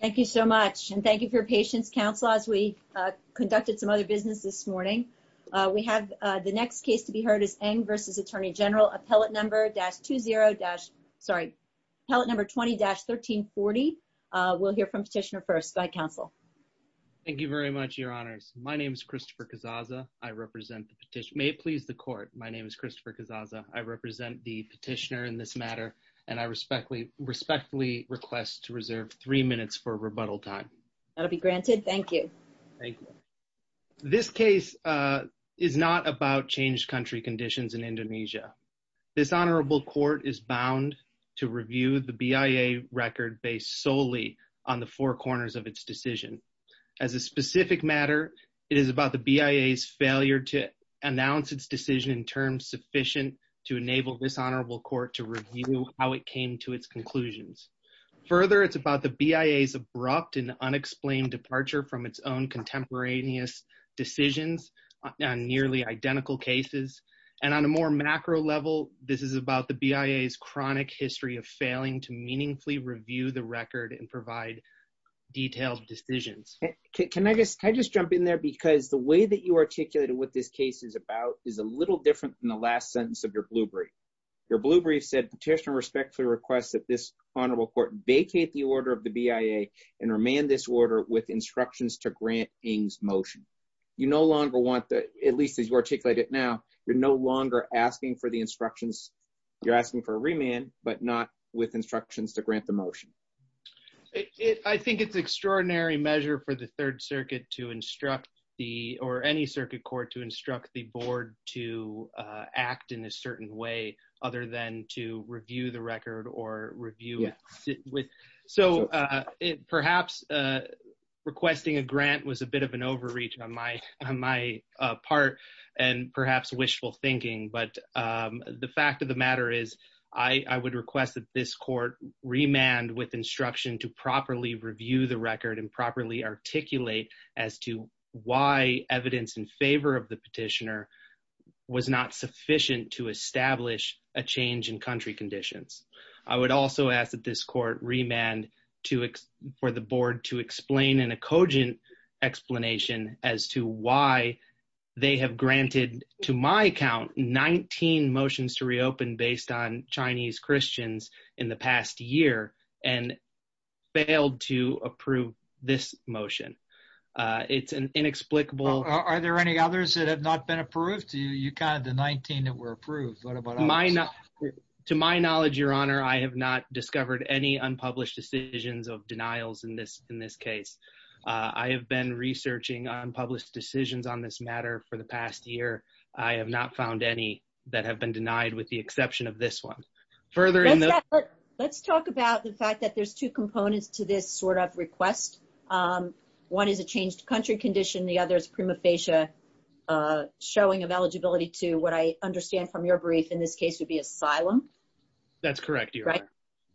Thank you so much, and thank you for your patience, counsel, as we conducted some other business this morning. We have the next case to be heard is Ng v. Attorney General, Appellate Number 20-1340. We'll hear from Petitioner first. Go ahead, counsel. Thank you very much, Your Honors. My name is Christopher Cazzazza. I represent the petitioner. May it please the court, my name is Christopher Cazzazza. I represent the petitioner in this time. That'll be granted. Thank you. Thank you. This case is not about changed country conditions in Indonesia. This honorable court is bound to review the BIA record based solely on the four corners of its decision. As a specific matter, it is about the BIA's failure to announce its decision in terms sufficient to enable this honorable court to review how it came to its abrupt and unexplained departure from its own contemporaneous decisions on nearly identical cases. And on a more macro level, this is about the BIA's chronic history of failing to meaningfully review the record and provide detailed decisions. Can I just jump in there? Because the way that you articulated what this case is about is a little different than the last sentence of your blue brief. Your blue brief said petitioner respectfully requests that this honorable court vacate the order of the BIA and remand this order with instructions to grant Eng's motion. You no longer want that, at least as you articulate it now, you're no longer asking for the instructions. You're asking for a remand, but not with instructions to grant the motion. I think it's extraordinary measure for the third circuit to instruct the or any circuit court to instruct the board to act in a certain way other than to review the record. So perhaps requesting a grant was a bit of an overreach on my part and perhaps wishful thinking. But the fact of the matter is I would request that this court remand with instruction to properly review the record and properly articulate as to why evidence in favor of the petitioner was not sufficient to establish a change in country conditions. I would also ask this court remand to for the board to explain in a cogent explanation as to why they have granted to my account 19 motions to reopen based on Chinese Christians in the past year and failed to approve this motion. It's an inexplicable. Are there any others that have not been approved? You counted the 19 that were approved. What about mine? To my knowledge, I have not discovered any unpublished decisions of denials in this case. I have been researching unpublished decisions on this matter for the past year. I have not found any that have been denied with the exception of this one. Let's talk about the fact that there's two components to this sort of request. One is a changed country condition. The other is prima facie showing of eligibility to what I understand from your brief in this case would be asylum. That's correct.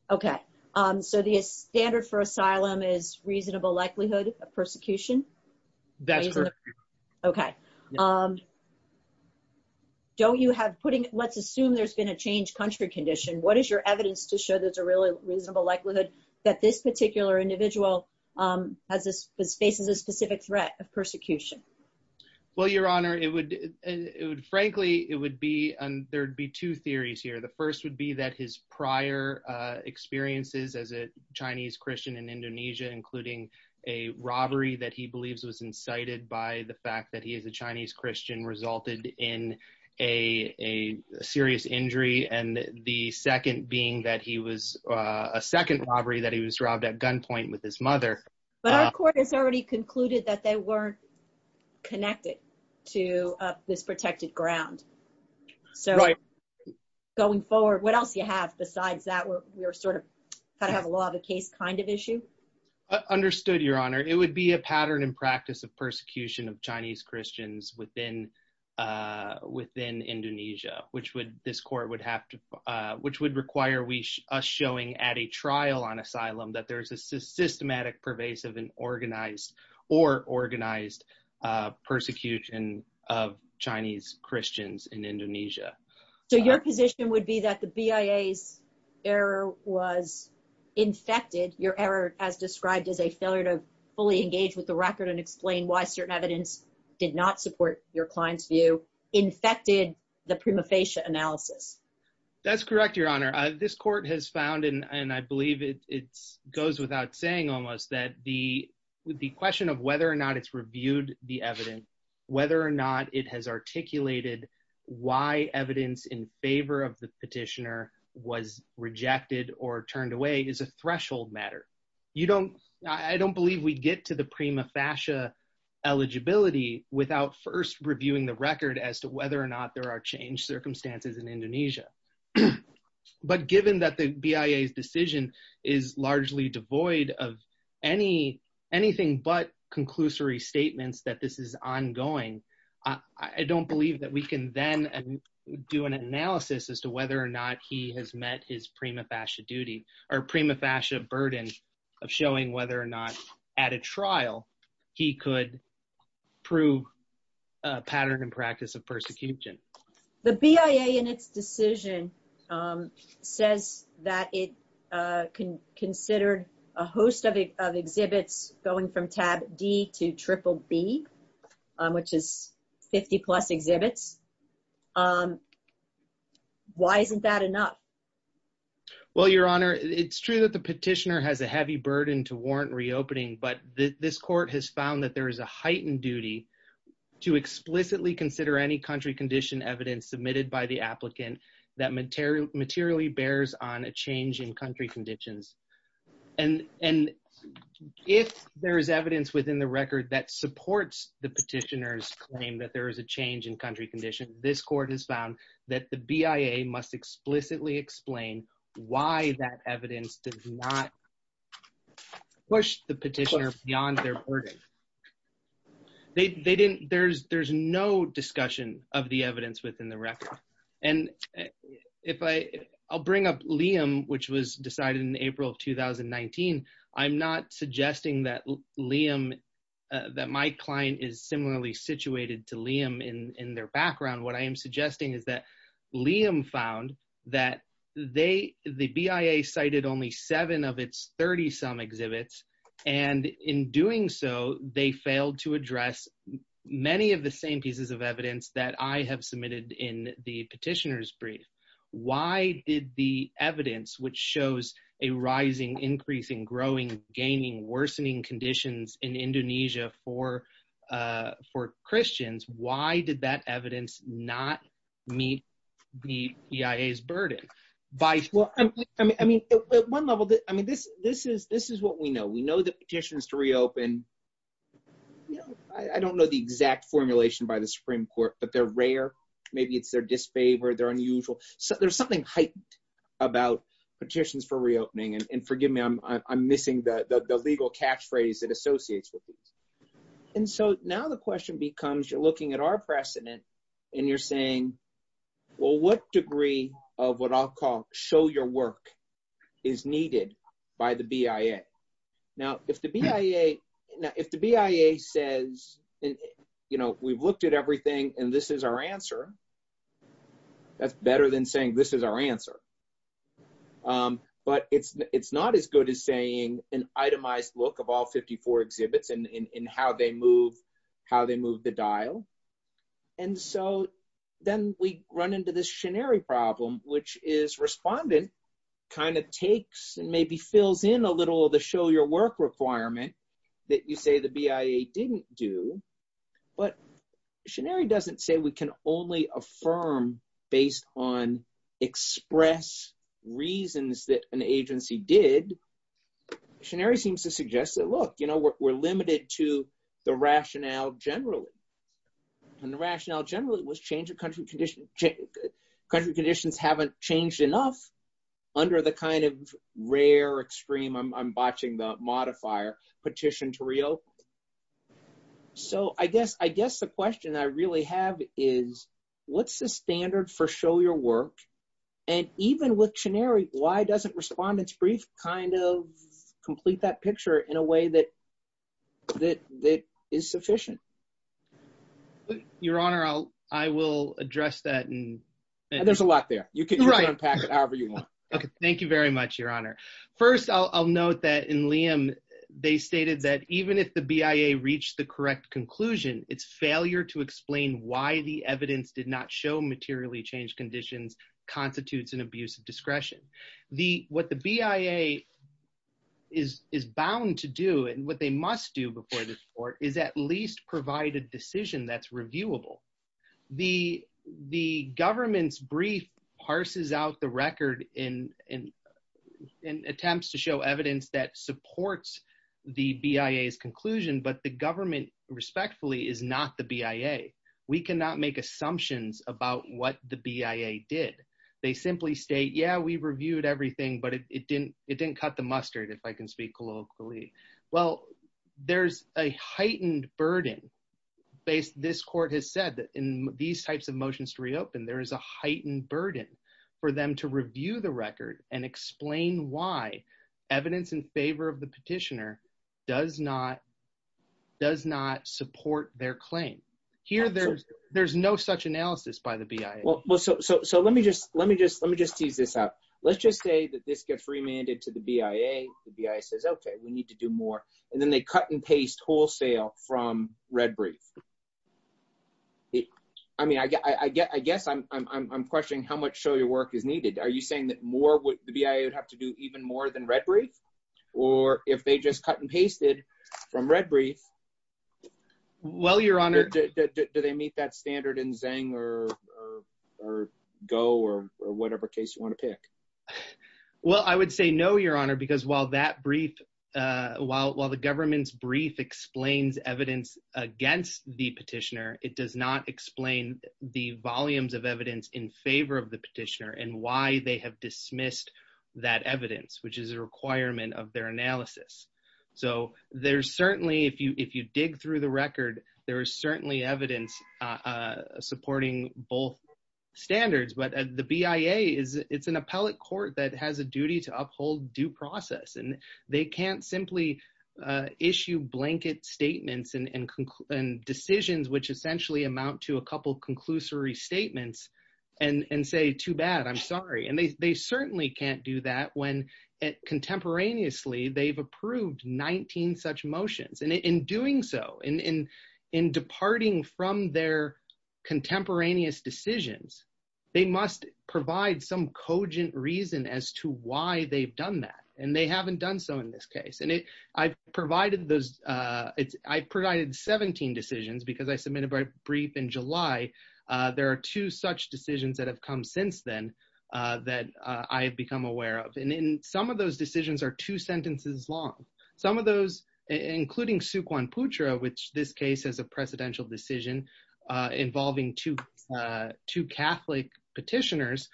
Okay. So the standard for asylum is reasonable likelihood of persecution. That's correct. Okay. Don't you have putting let's assume there's been a changed country condition. What is your evidence to show there's a really reasonable likelihood that this particular individual faces a specific threat of persecution? Well, your honor, it would, it would, frankly, it would be there'd be two theories here. The first would be that his prior experiences as a Chinese Christian in Indonesia, including a robbery that he believes was incited by the fact that he is a Chinese Christian resulted in a serious injury. And the second being that he was a second robbery that he was robbed at gunpoint with his mother. But our court has already concluded that they weren't connected to this protected ground. So going forward, what else do you have besides that we're we're sort of kind of have a law of the case kind of issue? Understood, your honor, it would be a pattern and practice of persecution of Chinese Christians within, within Indonesia, which would this court would have to, which would require we showing at a trial on asylum that there's a systematic, pervasive and organized or organized persecution of Chinese Christians in Indonesia. So your position would be that the BIA's error was infected your error, as described as a failure to fully engage with the record and explain why certain evidence did not support your client's infected the prima facie analysis. That's correct, your honor, this court has found in and I believe it's goes without saying almost that the the question of whether or not it's reviewed the evidence, whether or not it has articulated why evidence in favor of the petitioner was rejected or turned away is a threshold matter. You don't I don't believe we get to the prima facie eligibility without first reviewing the record as to whether or not there are changed circumstances in Indonesia. But given that the BIA's decision is largely devoid of any anything but conclusory statements that this is ongoing, I don't believe that we can then do an analysis as to whether or not he has met his prima facie duty or prima facie burden of showing whether or not at a trial he could prove a pattern and practice of persecution. The BIA in its decision says that it considered a host of exhibits going from tab D to triple B, which is 50 plus exhibits. Why isn't that enough? Well, your honor, it's true that the petitioner has a heavy burden to warrant reopening, but this court has found that there is a heightened duty to explicitly consider any country condition evidence submitted by the applicant that materially bears on a change in country conditions. And if there is evidence within the record that supports the petitioner's claim that there is a change in country condition, this court has found that the BIA must explicitly explain why that evidence does not push the petitioner beyond their burden. There's no discussion of the evidence within the record. And I'll bring up Liam, which was decided in April of 2019. I'm not suggesting that Liam, that my client is similarly situated to Liam in their background. What I am suggesting is that they, the BIA cited only seven of its 30 some exhibits, and in doing so, they failed to address many of the same pieces of evidence that I have submitted in the petitioner's brief. Why did the evidence, which shows a rising, increasing, growing, gaining, worsening conditions in Indonesia for Christians, why did that evidence not meet the BIA's burden? Well, I mean, at one level, I mean, this is what we know. We know that petitions to reopen, you know, I don't know the exact formulation by the Supreme Court, but they're rare. Maybe it's their disfavor, they're unusual. There's something heightened about petitions for reopening. And forgive me, I'm missing the legal catchphrase that associates with these. And so now the question becomes, you're looking at our precedent, and you're saying, well, what degree of what I'll call show your work is needed by the BIA? Now, if the BIA says, you know, we've looked at everything, and this is our answer, that's better than saying this is our answer. But it's not as good as saying an itemized look of all 54 exhibits and how they move the dial. And so then we run into this shenari problem, which is respondent kind of takes and maybe fills in a little of the show your work requirement that you say the BIA didn't do. But shenari doesn't say we can only affirm based on express reasons that an agency did. shenari seems to suggest that, look, you know, we're limited to the rationale generally. And the rationale generally was change of country conditions. Country conditions haven't changed enough under the kind of rare extreme, I'm botching the modifier, petition to reopen. So I guess the question I really have is, what's the standard for show your work? And even with shenari, why doesn't respondents brief kind of complete that picture in a way that is sufficient? Your Honor, I will address that. There's a lot there. You can unpack it however you want. Okay, thank you very much, Your Honor. First, I'll note that in Liam, they stated that even if the BIA reached the correct conclusion, its failure to explain why the evidence did not show materially changed conditions constitutes an abuse of discretion. What the BIA is bound to do and what they must do before the court is at least provide a decision that's reviewable. The government's brief parses out the record and attempts to show evidence that but the government respectfully is not the BIA. We cannot make assumptions about what the BIA did. They simply state, yeah, we reviewed everything, but it didn't cut the mustard, if I can speak colloquially. Well, there's a heightened burden based, this court has said that in these types of motions to reopen, there is a heightened burden for them to review the record and explain why evidence in favor of the petitioner does not support their claim. Here, there's no such analysis by the BIA. Well, so let me just tease this out. Let's just say that this gets remanded to the BIA. The BIA says, okay, we need to do more. And then they cut and paste wholesale from Red Brief. I mean, I guess I'm questioning how much show your work is needed. Are you saying that more the BIA would have to do even more than Red Brief? Or if they just cut and pasted from Red Brief, do they meet that standard in Zang or Go or whatever case you want to pick? Well, I would say no, your honor, because while that brief, while the government's brief explains evidence against the petitioner, it does not explain the volumes of evidence in favor of petitioner and why they have dismissed that evidence, which is a requirement of their analysis. So there's certainly, if you dig through the record, there is certainly evidence supporting both standards. But the BIA, it's an appellate court that has a duty to uphold due process. And they can't simply issue blanket statements and decisions, which essentially amount to a too bad, I'm sorry. And they certainly can't do that when contemporaneously they've approved 19 such motions. And in doing so, in departing from their contemporaneous decisions, they must provide some cogent reason as to why they've done that. And they haven't done so in this case. And I've provided 17 decisions because I submitted my brief in July. There are two such decisions that have come since then that I've become aware of. And in some of those decisions are two sentences long. Some of those, including Sukhwan Putra, which this case is a precedential decision involving two Catholic petitioners,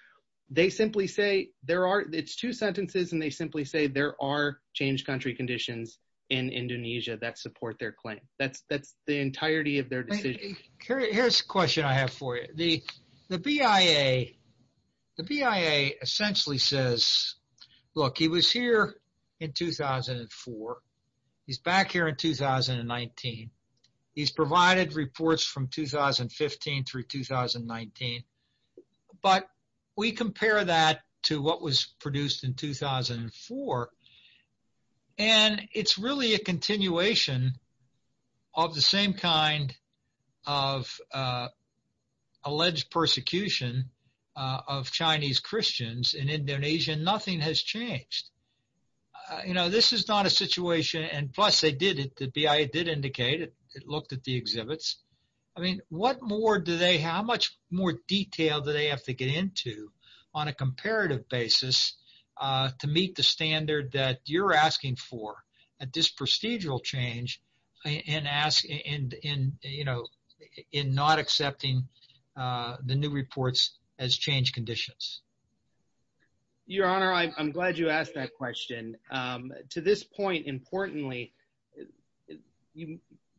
they simply say there are, it's two sentences and they simply say there are changed country conditions in Indonesia that support their claim. That's the entirety of their decision. Here's a question I have for you. The BIA essentially says, look, he was here in 2004. He's back here in 2019. He's provided reports from 2015 through 2019. But we compare that to what was produced in 2004. And it's really a continuation of the same kind of alleged persecution of Chinese Christians in Indonesia. Nothing has changed. This is not a situation, and plus they did it, the BIA did indicate it. It looked at the exhibits. I mean, what more do they, how much more detail do they have to get into on a comparative basis to meet the standard that you're asking for at this procedural change and ask in not accepting the new reports as changed conditions? Your Honor, I'm glad you asked that question. To this point, importantly,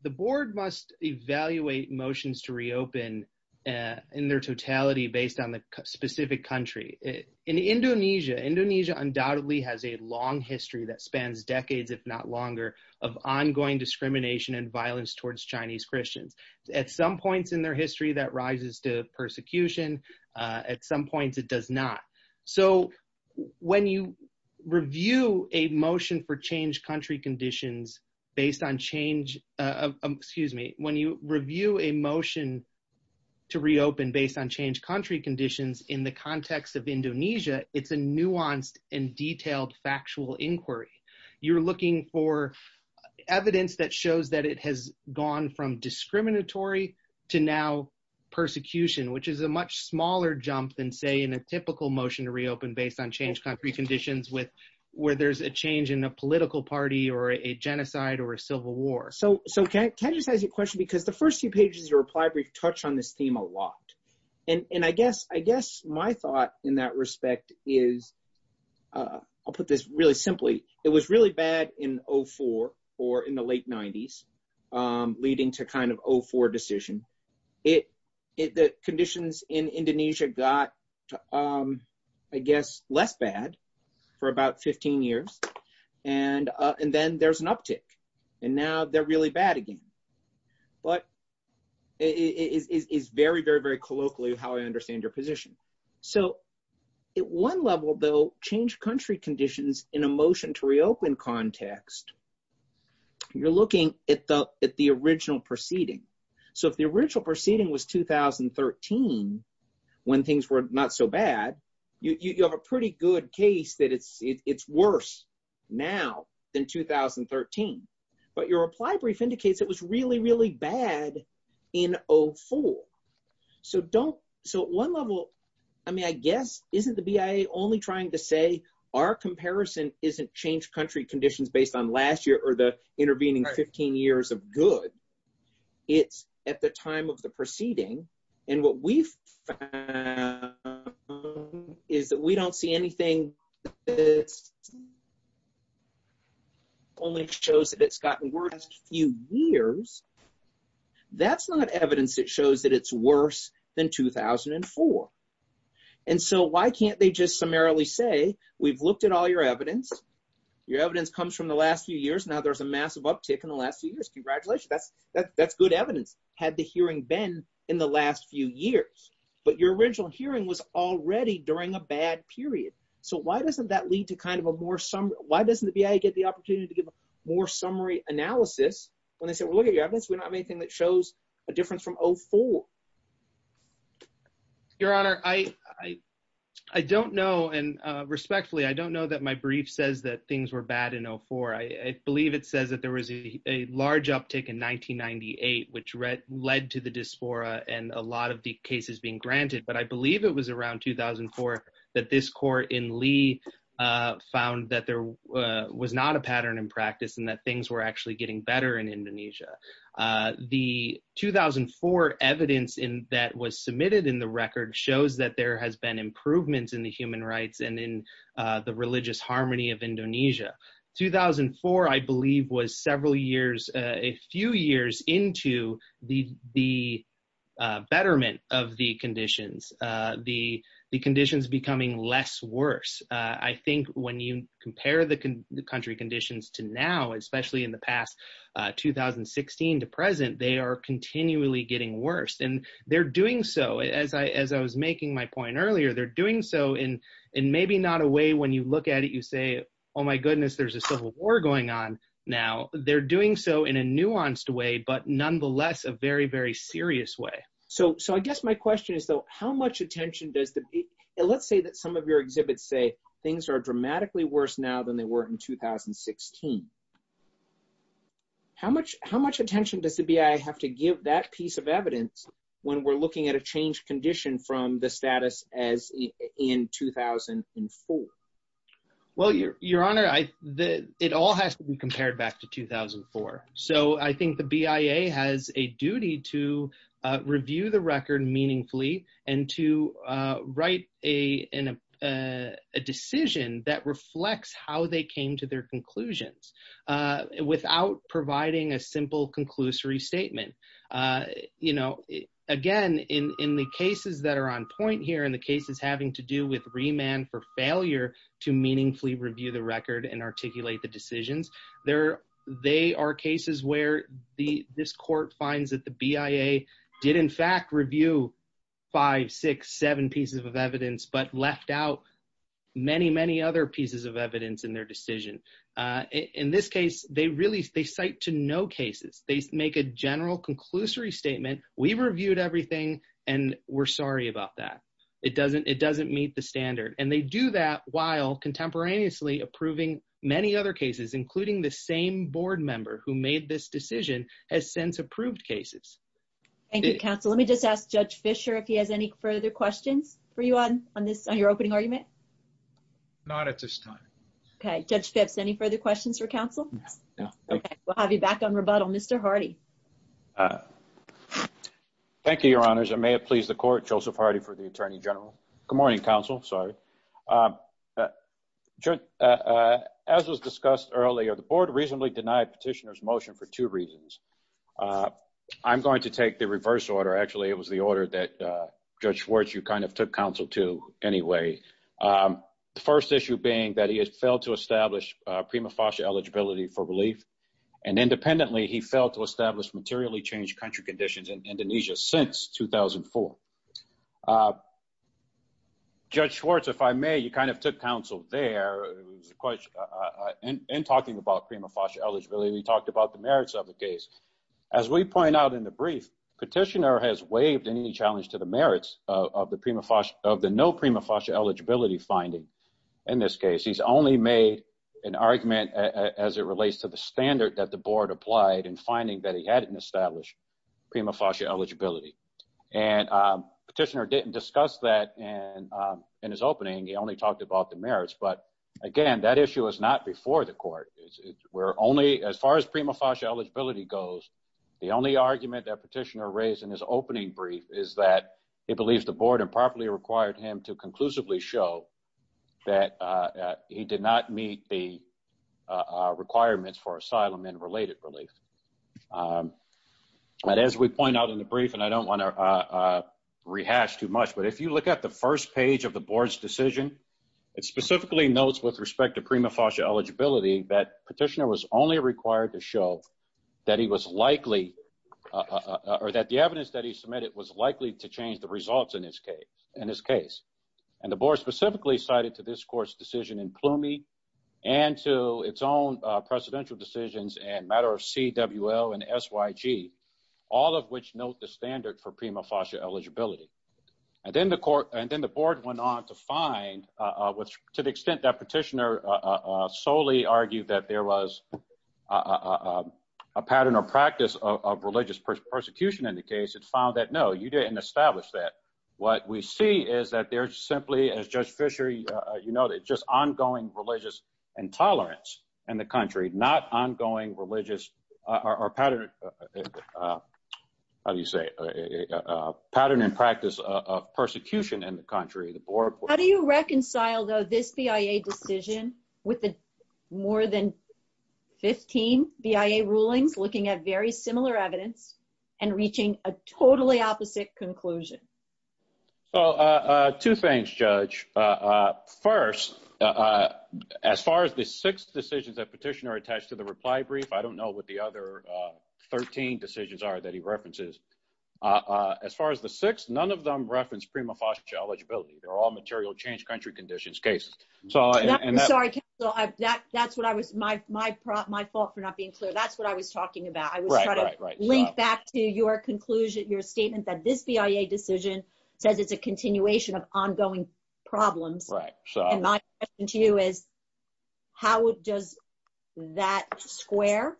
the board must evaluate motions to reopen in their totality based on the specific country. In Indonesia, Indonesia undoubtedly has a long history that spans decades, if not longer, of ongoing discrimination and violence towards Chinese Christians. At some points in their history, that rises to persecution. At some points, it does not. So when you review a motion for changed country conditions based on change, excuse me, when you review a motion to reopen based on changed country conditions in the context of Indonesia, it's a nuanced and detailed factual inquiry. You're looking for evidence that shows that it has gone from discriminatory to now persecution, which is a much smaller jump than, say, in a typical motion to reopen based on a change in a political party or a genocide or a civil war. So can I just ask you a question? Because the first few pages of your reply brief touch on this theme a lot. And I guess my thought in that respect is, I'll put this really simply, it was really bad in 04 or in the late 90s, leading to kind of 04 decision. The conditions in Indonesia got, I guess, less bad for about 15 years. And then there's an uptick. And now they're really bad again. But it is very, very, very colloquially how I understand your position. So at one level, though, changed country conditions in a motion to reopen context, you're looking at the original proceeding. So if the original proceeding was 2013, when things were not so bad, you have a pretty good case that it's worse now than 2013. But your reply brief indicates it was really, really bad in 04. So at one level, I mean, I guess, isn't the BIA only trying to say our comparison isn't changed country conditions based on last year or the intervening 15 years of good? It's at the time of the proceeding. And what we've is that we don't see anything that's only shows that it's gotten worse a few years. That's not evidence that shows that it's worse than 2004. And so why can't they just summarily say, we've looked at all your evidence. Your evidence comes from the last few years. Now there's a massive uptick in the last few years. Congratulations. That's good evidence. Had the hearing been in the last few years, but your original hearing was already during a bad period. So why doesn't that lead to kind of a more summary? Why doesn't the BIA get the opportunity to give more summary analysis when they said, well, look at your evidence, we don't have anything that shows a difference from 2004? Your Honor, I don't know. And respectfully, I don't know that my brief says that things were bad in 04. I believe it says that there was a large uptick in 1998, which led to the dysphoria and a lot of the cases being granted. But I believe it was around 2004 that this court in Lee found that there was not a pattern in practice and that things were actually getting better in 2004. The report evidence that was submitted in the record shows that there has been improvements in the human rights and in the religious harmony of Indonesia. 2004, I believe was several years, a few years into the betterment of the conditions, the conditions becoming less worse. I think when you compare the country conditions to now, especially in the past 2016 to present, they are continually getting worse. And they're doing so, as I was making my point earlier, they're doing so in maybe not a way, when you look at it, you say, oh my goodness, there's a civil war going on now. They're doing so in a nuanced way, but nonetheless, a very, very serious way. So I guess my question is though, how much attention does the, let's say that some of your exhibits say things are dramatically worse now than they were in 2016. How much attention does the BIA have to give that piece of evidence when we're looking at a changed condition from the status as in 2004? Well, your honor, it all has to be compared back to 2004. So I think the BIA has a duty to review the record meaningfully and to write a decision that reflects how they came to their conclusions without providing a simple conclusory statement. Again, in the cases that are on point here and the cases having to do with remand for failure to meaningfully review the record and articulate the decisions, they are cases where this court finds that the BIA did in fact review five, six, seven pieces of evidence, but left out many, many other pieces of evidence in their decision. In this case, they really, they cite to no cases. They make a general conclusory statement. We reviewed everything and we're sorry about that. It doesn't meet the standard. And they do that while contemporaneously approving many other cases, including the same board member who made this decision has since approved cases. Thank you, counsel. Let me just ask judge Fisher if he has any further questions for you on this, on your opening argument. Not at this time. Okay. Judge Phipps, any further questions for counsel? We'll have you back on rebuttal. Mr. Hardy. Thank you, your honors. I may have pleased the court. Joseph Hardy for the attorney general. Good morning, counsel. Sorry. As was discussed earlier, the board reasonably denied petitioner's motion for two reasons. I'm going to take the reverse order. Actually, it was the order that judge Schwartz, you kind of took counsel to anyway. The first issue being that he has failed to establish a prima facie eligibility for relief. And independently, he failed to establish materially changed country conditions in Indonesia since 2004. Judge Schwartz, if I may, you kind of took counsel there. It was a question in talking about prima facie eligibility. We talked about the merits of the case. As we point out in the brief, petitioner has waived any challenge to merits of the no prima facie eligibility finding. In this case, he's only made an argument as it relates to the standard that the board applied and finding that he hadn't established prima facie eligibility. And petitioner didn't discuss that in his opening. He only talked about the merits. But again, that issue is not before the court. As far as prima facie eligibility goes, the only argument that petitioner raised in his opening brief is that he believes the board improperly required him to conclusively show that he did not meet the requirements for asylum and related relief. But as we point out in the brief, and I don't want to rehash too much, but if you look at the first page of the board's decision, it specifically notes with respect to prima facie eligibility, that petitioner was only required to show that he was likely or that the evidence that he submitted was likely to change the results in his case. And the board specifically cited to this court's decision in Plumey and to its own precedential decisions and matter of CWL and SYG, all of which note the standard for prima facie eligibility. And then the court, and then the argued that there was a pattern or practice of religious persecution in the case, it found that, no, you didn't establish that. What we see is that there's simply, as Judge Fisher, you know, that just ongoing religious intolerance in the country, not ongoing religious or pattern, how do you say, pattern and practice of persecution in the country. How do you reconcile though this BIA decision with the more than 15 BIA rulings looking at very similar evidence and reaching a totally opposite conclusion? So two things, Judge. First, as far as the six decisions that petitioner attached to the reply brief, I don't know what the other 13 decisions are that he references. As far as the six, none of them reference prima facie eligibility. They're all material change country conditions cases. So, and that's what I was, my fault for not being clear. That's what I was talking about. I was trying to link back to your conclusion, your statement that this BIA decision says it's a continuation of ongoing problems. And my question to you is how does that square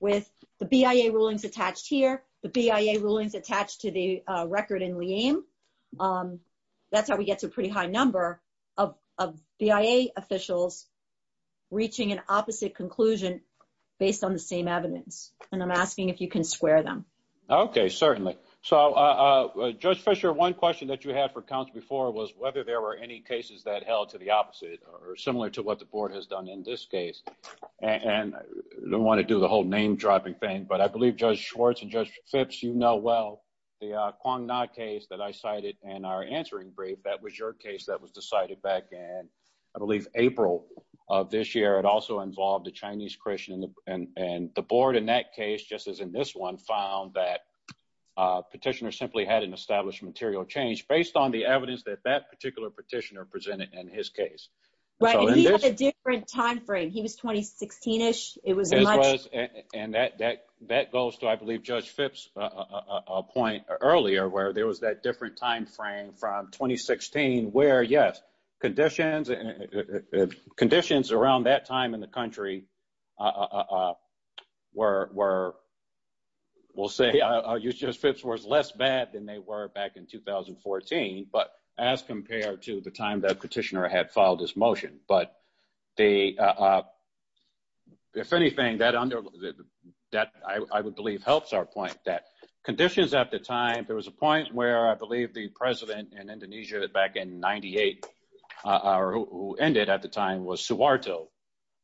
with the BIA rulings attached here, the BIA rulings attached to the record in Liam? That's how we get to a pretty high number of BIA officials reaching an opposite conclusion based on the same evidence. And I'm asking if you can square them. Okay, certainly. So Judge Fisher, one question that you had for council before was whether there were any cases that held to the opposite or similar to what the board has done in this case. And I don't want to do the whole name dropping thing, but I believe Judge Schwartz and Judge Phipps, you know well, the Kwong-Na case that I cited in our answering brief, that was your case that was decided back in, I believe, April of this year. It also involved a Chinese Christian and the board in that case, just as in this one, found that petitioner simply hadn't established material change based on the evidence that that particular petitioner presented in his case. Right, and he had a different timeframe. He was 2016-ish. It was much- And that goes to, I believe, Judge Phipps' point earlier where there was that different timeframe from 2016 where, yes, conditions around that time in the country were, we'll say, Judge Phipps was less bad than they were back in 2014, but as compared to the time that petitioner had filed this motion. But the, if anything, that, I would believe, helps our point that conditions at the time, there was a point where I believe the president in Indonesia back in 98 or who ended at the time was Suwarto,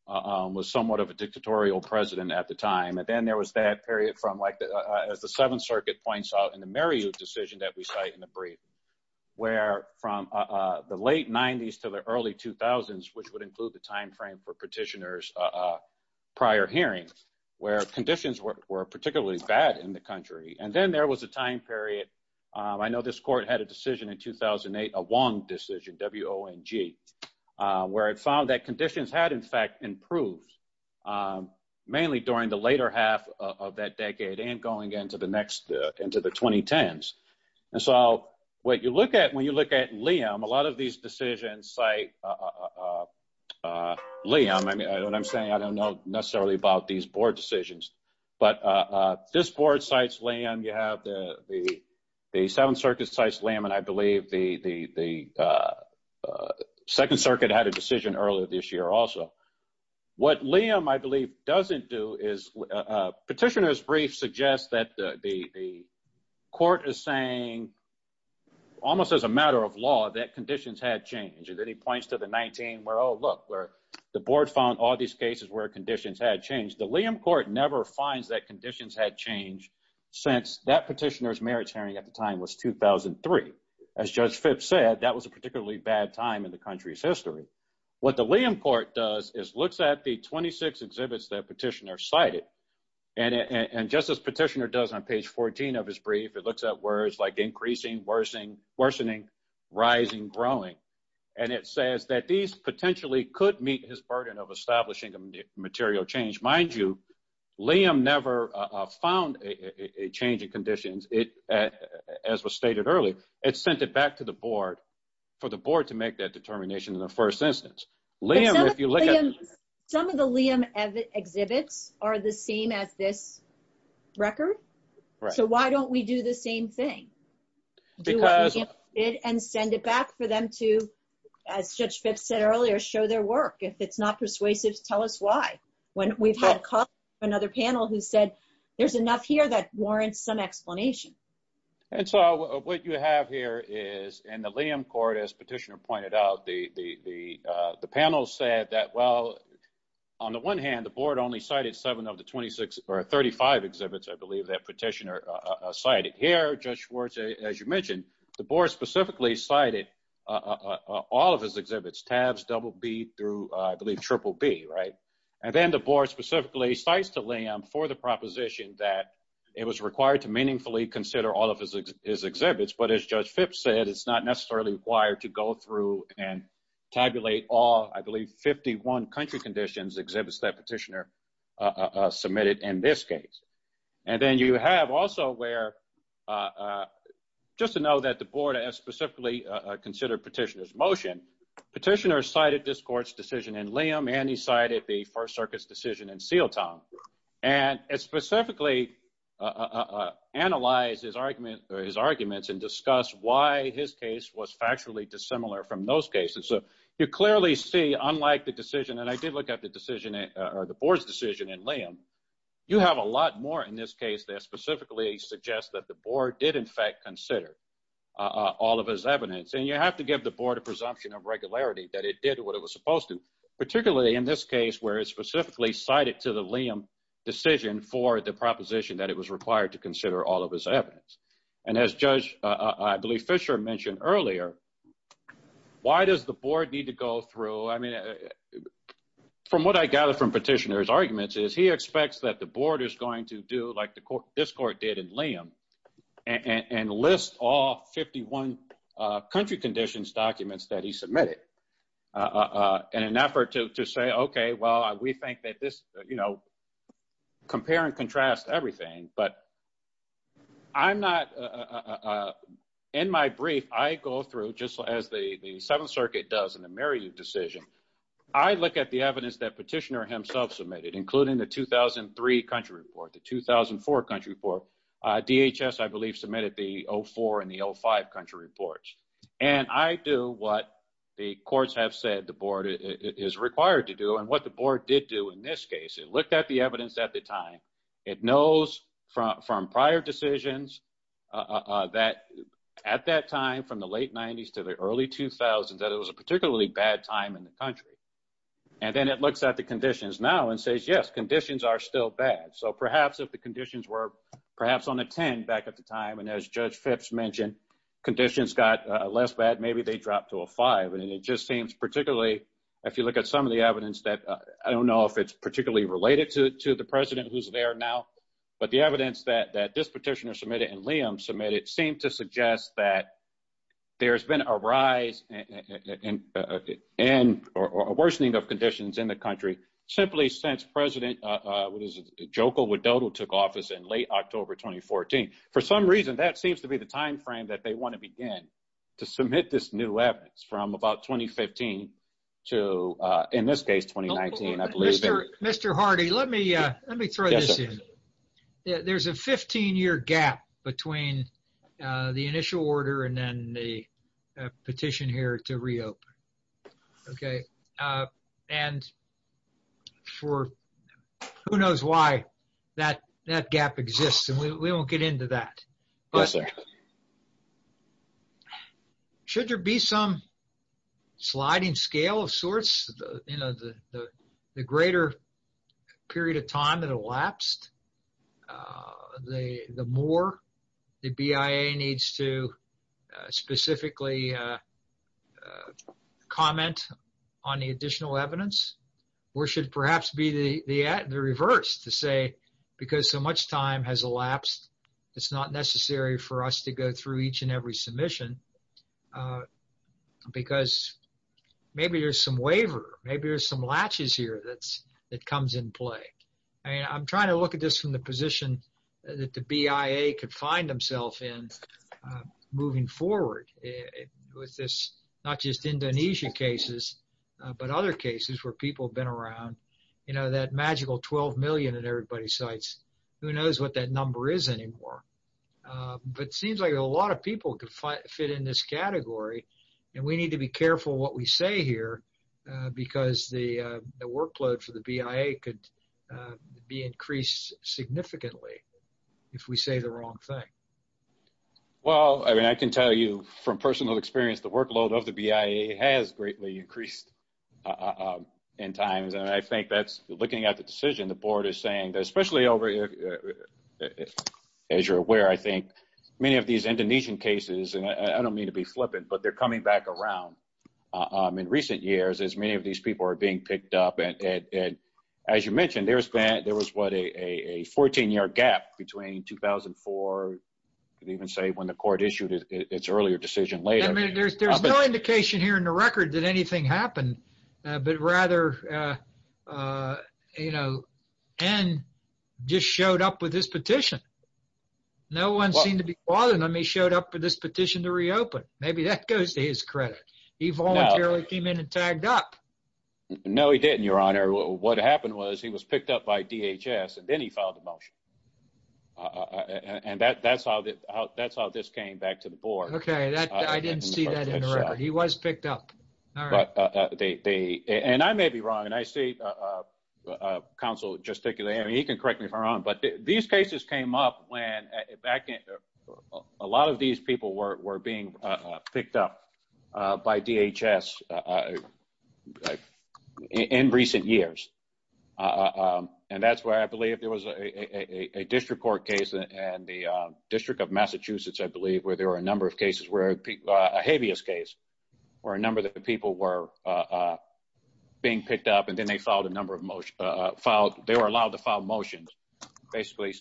was somewhat of a dictatorial president at the time. And then there was that period from like, as the Seventh Circuit points out in the Meriu decision that we cite in the timeframe for petitioner's prior hearing where conditions were particularly bad in the country. And then there was a time period, I know this court had a decision in 2008, a Wong decision, W-O-N-G, where it found that conditions had in fact improved mainly during the later half of that decade and going into the next, into the 2010s. And so what you look at when you look at Liam, a lot of these decisions cite Liam. I mean, what I'm saying, I don't know necessarily about these board decisions, but this board cites Liam, you have the Seventh Circuit cites Liam, and I believe the Second Circuit had a decision earlier this year also. What Liam, I believe, doesn't do is petitioner's brief suggests that the court is saying almost as a matter of law, that conditions had changed. And then he points to the 19 where, oh, look, where the board found all these cases where conditions had changed. The Liam court never finds that conditions had changed since that petitioner's merits hearing at the time was 2003. As Judge Phipps said, that was a particularly bad time in the country's history. What the Liam court does is looks at the 26 exhibits that petitioner cited. And just as petitioner does on page 14 of his brief, it growing. And it says that these potentially could meet his burden of establishing material change. Mind you, Liam never found a change in conditions. As was stated earlier, it sent it back to the board for the board to make that determination in the first instance. Liam, if you look at- But some of the Liam exhibits are the same as this record. So why don't we do the same thing? Because- And send it back for them to, as Judge Phipps said earlier, show their work. If it's not persuasive, tell us why. We've had another panel who said there's enough here that warrants some explanation. And so what you have here is in the Liam court, as petitioner pointed out, the panel said that, well, on the one hand, the board only cited seven of the 26 or 35 exhibits, I believe, that petitioner cited. Here, Judge Schwartz, as you mentioned, the board specifically cited all of his exhibits, tabs BBB through, I believe, BBB, right? And then the board specifically cites to Liam for the proposition that it was required to meaningfully consider all of his exhibits. But as Judge Phipps said, it's not necessarily required to go through and tabulate all, I believe, 51 country conditions exhibits that petitioner submitted in this case. And then you have also where, just to know that the board has specifically considered petitioner's motion, petitioner cited this court's decision in Liam, and he cited the First Circuit's decision in Seeleton. And it specifically analyzed his arguments and discussed why his case was factually dissimilar from those cases. So you clearly see, unlike the decision, and I did look at the board's decision in Liam, you have a lot more in this case that specifically suggests that the board did, in fact, consider all of his evidence. And you have to give the board a presumption of regularity that it did what it was supposed to, particularly in this case, where it specifically cited to the Liam decision for the proposition that it was required to consider all of his evidence. And as Judge, I believe, Fisher mentioned earlier, why does the board need to go through, I mean, from what I gather from petitioner's arguments is he expects that the board is going to do like this court did in Liam, and list all 51 country conditions documents that he submitted in an effort to say, okay, well, we think that this, you know, compare and contrast everything, but I'm not, in my brief, I go through just as the Seventh Circuit does in the Merriweather decision, I look at the evidence that petitioner himself submitted, including the 2003 country report, the 2004 country report, DHS, I believe, submitted the 04 and the 05 country reports. And I do what the courts have said the board is required to do, and what the board did do in this case, it looked at the evidence at the time, it knows from prior decisions that at that time, from the late 90s to the early 2000s, that it was a particularly bad time in the country. And then it looks at the conditions now and says, yes, conditions are still bad. So perhaps if the conditions were perhaps on a 10 back at the time, and as Judge Phipps mentioned, conditions got less bad, maybe they dropped to a five. And it just seems particularly, if you look at some of the to the president who's there now, but the evidence that this petitioner submitted and Liam submitted seemed to suggest that there's been a rise in or a worsening of conditions in the country, simply since President Joko Widodo took office in late October, 2014. For some reason, that seems to be the timeframe that they want to begin to submit this new evidence from about 2015 to, in this case, 2019. Mr. Hardy, let me throw this in. There's a 15 year gap between the initial order and then the petition here to reopen. And for who knows why that gap exists, and we won't get into that. Yes, sir. Should there be some sliding scale of sorts, the greater period of time that elapsed, the more the BIA needs to specifically comment on the additional evidence, or should perhaps be the for us to go through each and every submission? Because maybe there's some waiver, maybe there's some latches here that comes in play. And I'm trying to look at this from the position that the BIA could find themselves in moving forward with this, not just Indonesia cases, but other cases where people have been around, you know, that magical 12 million that everybody cites, who knows what that number is anymore. But it seems like a lot of people could fit in this category. And we need to be careful what we say here, because the workload for the BIA could be increased significantly if we say the wrong thing. Well, I mean, I can tell you from personal experience, the workload of the BIA has greatly increased in times. And I think that's looking at the decision, the board is saying that, especially as you're aware, I think many of these Indonesian cases, and I don't mean to be flippant, but they're coming back around in recent years, as many of these people are being picked up. And as you mentioned, there was a 14-year gap between 2004, could even say when the court issued its earlier decision later. I mean, there's no indication here in the record that anything happened, but rather, you know, and just showed up with this petition. No one seemed to be bothering him, he showed up for this petition to reopen. Maybe that goes to his credit. He voluntarily came in and tagged up. No, he didn't, Your Honor. What happened was he was picked up by DHS, and then he filed a motion. And that's how this came back to the board. Okay, I didn't see that in the record. He was picked up. But they, and I may be wrong, and I see counsel gesticulate. I mean, he can correct me if I'm wrong. But these cases came up when, a lot of these people were being picked up by DHS in recent years. And that's why I believe there was a district court case in the district of Massachusetts, I believe, where there were a number of cases where people, a habeas case, where a number of the people were being picked up, and then they filed a number of motions. They were allowed to file motions, basically,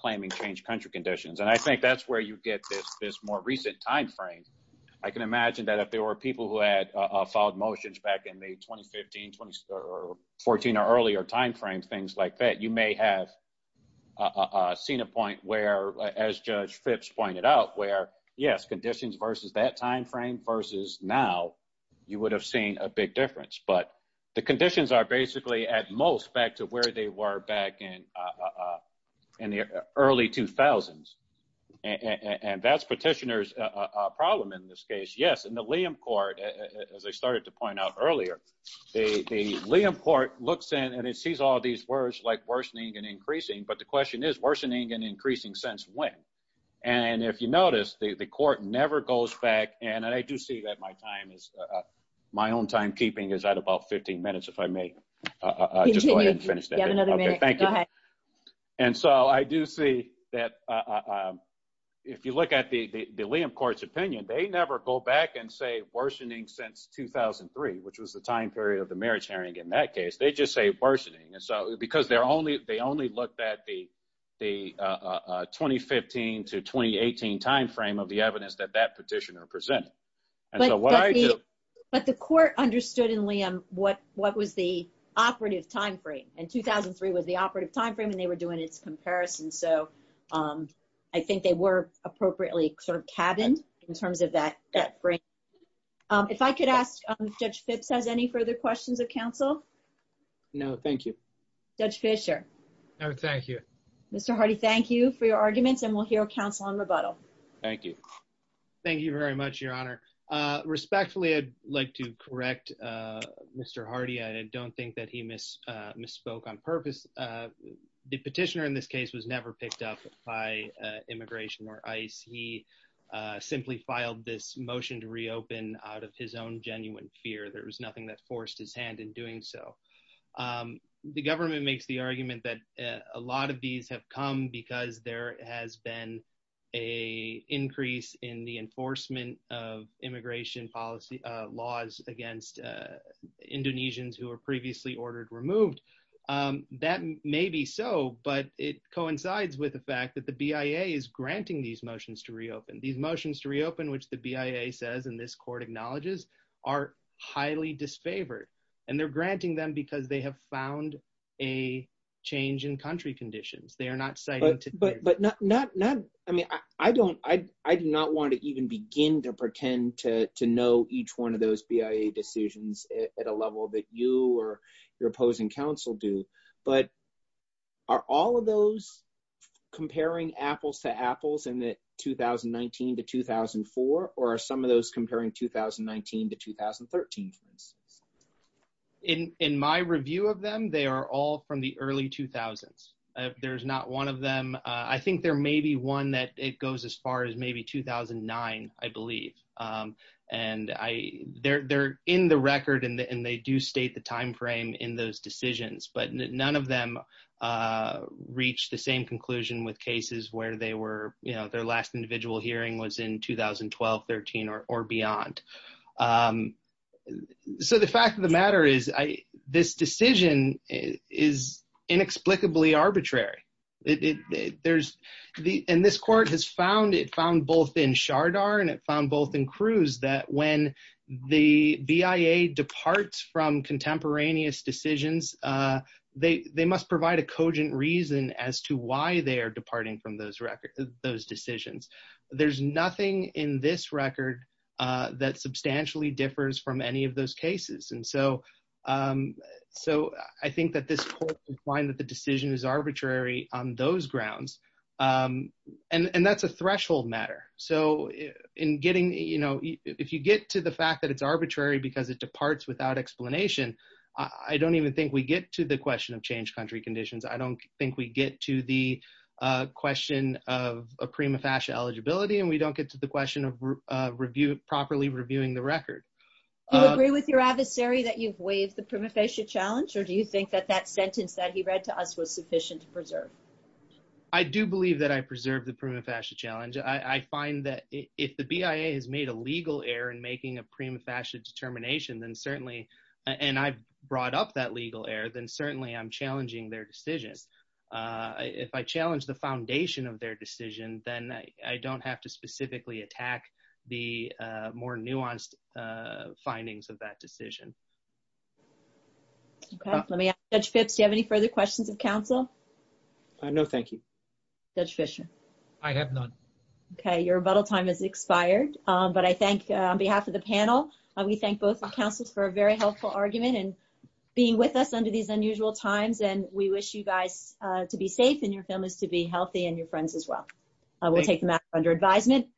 claiming changed country conditions. And I think that's where you get this more recent timeframe. I can imagine that if there were people who had filed motions back in the 2015, 2014, or earlier timeframe, things like that, you may have a seen a point where, as Judge Phipps pointed out, where, yes, conditions versus that timeframe versus now, you would have seen a big difference. But the conditions are basically at most back to where they were back in the early 2000s. And that's petitioners problem in this case. Yes, in the Liam Court, as I started to point out earlier, the Liam Court looks in and it sees all these words like worsening and increasing. But the question is, worsening and increasing since when? And if you notice, the court never goes back. And I do see that my time is, my own timekeeping is at about 15 minutes, if I may finish. Thank you. And so I do see that if you look at the Liam Court's opinion, they never go back and say worsening since 2003, which was the time period of the marriage hearing. In that case, they just say worsening. And so because they only looked at the 2015 to 2018 timeframe of the evidence that that petitioner presented. But the court understood in Liam what was the operative timeframe. And 2003 was the operative timeframe and they were doing its comparison. So I think they were appropriately cabined in terms of that frame. If I could ask Judge Phipps has any further questions of counsel? No, thank you. Judge Fisher? No, thank you. Mr. Hardy, thank you for your arguments. And we'll hear counsel on rebuttal. Thank you. Thank you very much, Your Honor. Respectfully, I'd like to correct Mr. Hardy. I don't think that he miss misspoke on purpose. The petitioner in this case was never picked up by immigration or ICE. He simply filed this motion to reopen out of his own genuine fear. There was nothing that forced his hand in doing so. The government makes the argument that a lot of these have come because there has been a increase in the enforcement of immigration policy laws against Indonesians who were previously ordered removed. That may be so, but it coincides with the fact that the BIA is granting these motions to reopen. These motions to reopen, which the BIA says and this court acknowledges are highly disfavored. And they're granting them because they have found a change in country conditions. They are not cited. I mean, I do not want to even begin to pretend to know each one of those BIA decisions at a level that you or your opposing counsel do. But are all of those comparing apples to apples in the 2019 to 2004? Or are some of those comparing 2019 to 2013? In my review of them, they are all from the early 2000s. There's not one of them. I think there may be one that it goes as far as maybe 2009, I believe. And they're in the record and they do state the time frame in those decisions. But none of them reach the same conclusion with cases where their last individual hearing was in 2012, 13, or beyond. So the fact of the matter is this decision is inexplicably arbitrary. And this court has found, it found both in Shardar and it found both in Cruz that when the BIA departs from contemporaneous decisions, they must provide a cogent reason as to why they are departing from those decisions. There's nothing in this record that substantially differs from any of those cases. And so I think that this court can find that the decision is arbitrary on those grounds. And that's a threshold matter. So if you get to the fact that it's arbitrary because it departs without explanation, I don't even think we get to the question of change country conditions. I don't think we get to the question of prima facie eligibility and we don't get to the question of properly reviewing the record. Do you agree with your adversary that you've waived the prima facie challenge or do you think that that sentence that he read to us was sufficient to preserve? I do believe that I preserved the prima facie challenge. I find that if the BIA has made a legal error in making a prima facie determination then certainly, and I've brought up that legal error, then certainly I'm challenging their decisions. If I challenge the foundation of their decision, then I don't have to specifically attack the more nuanced findings of that decision. Okay, let me ask Judge Phipps, do you have any further questions of counsel? No, thank you. Judge Fischer? I have none. Okay, your rebuttal time has expired. But I thank on behalf of the panel, we thank both counsels for a very helpful argument and being with us under these unusual times and we wish you guys to be safe and your families to be healthy and your friends as well. We'll take them back under advisement.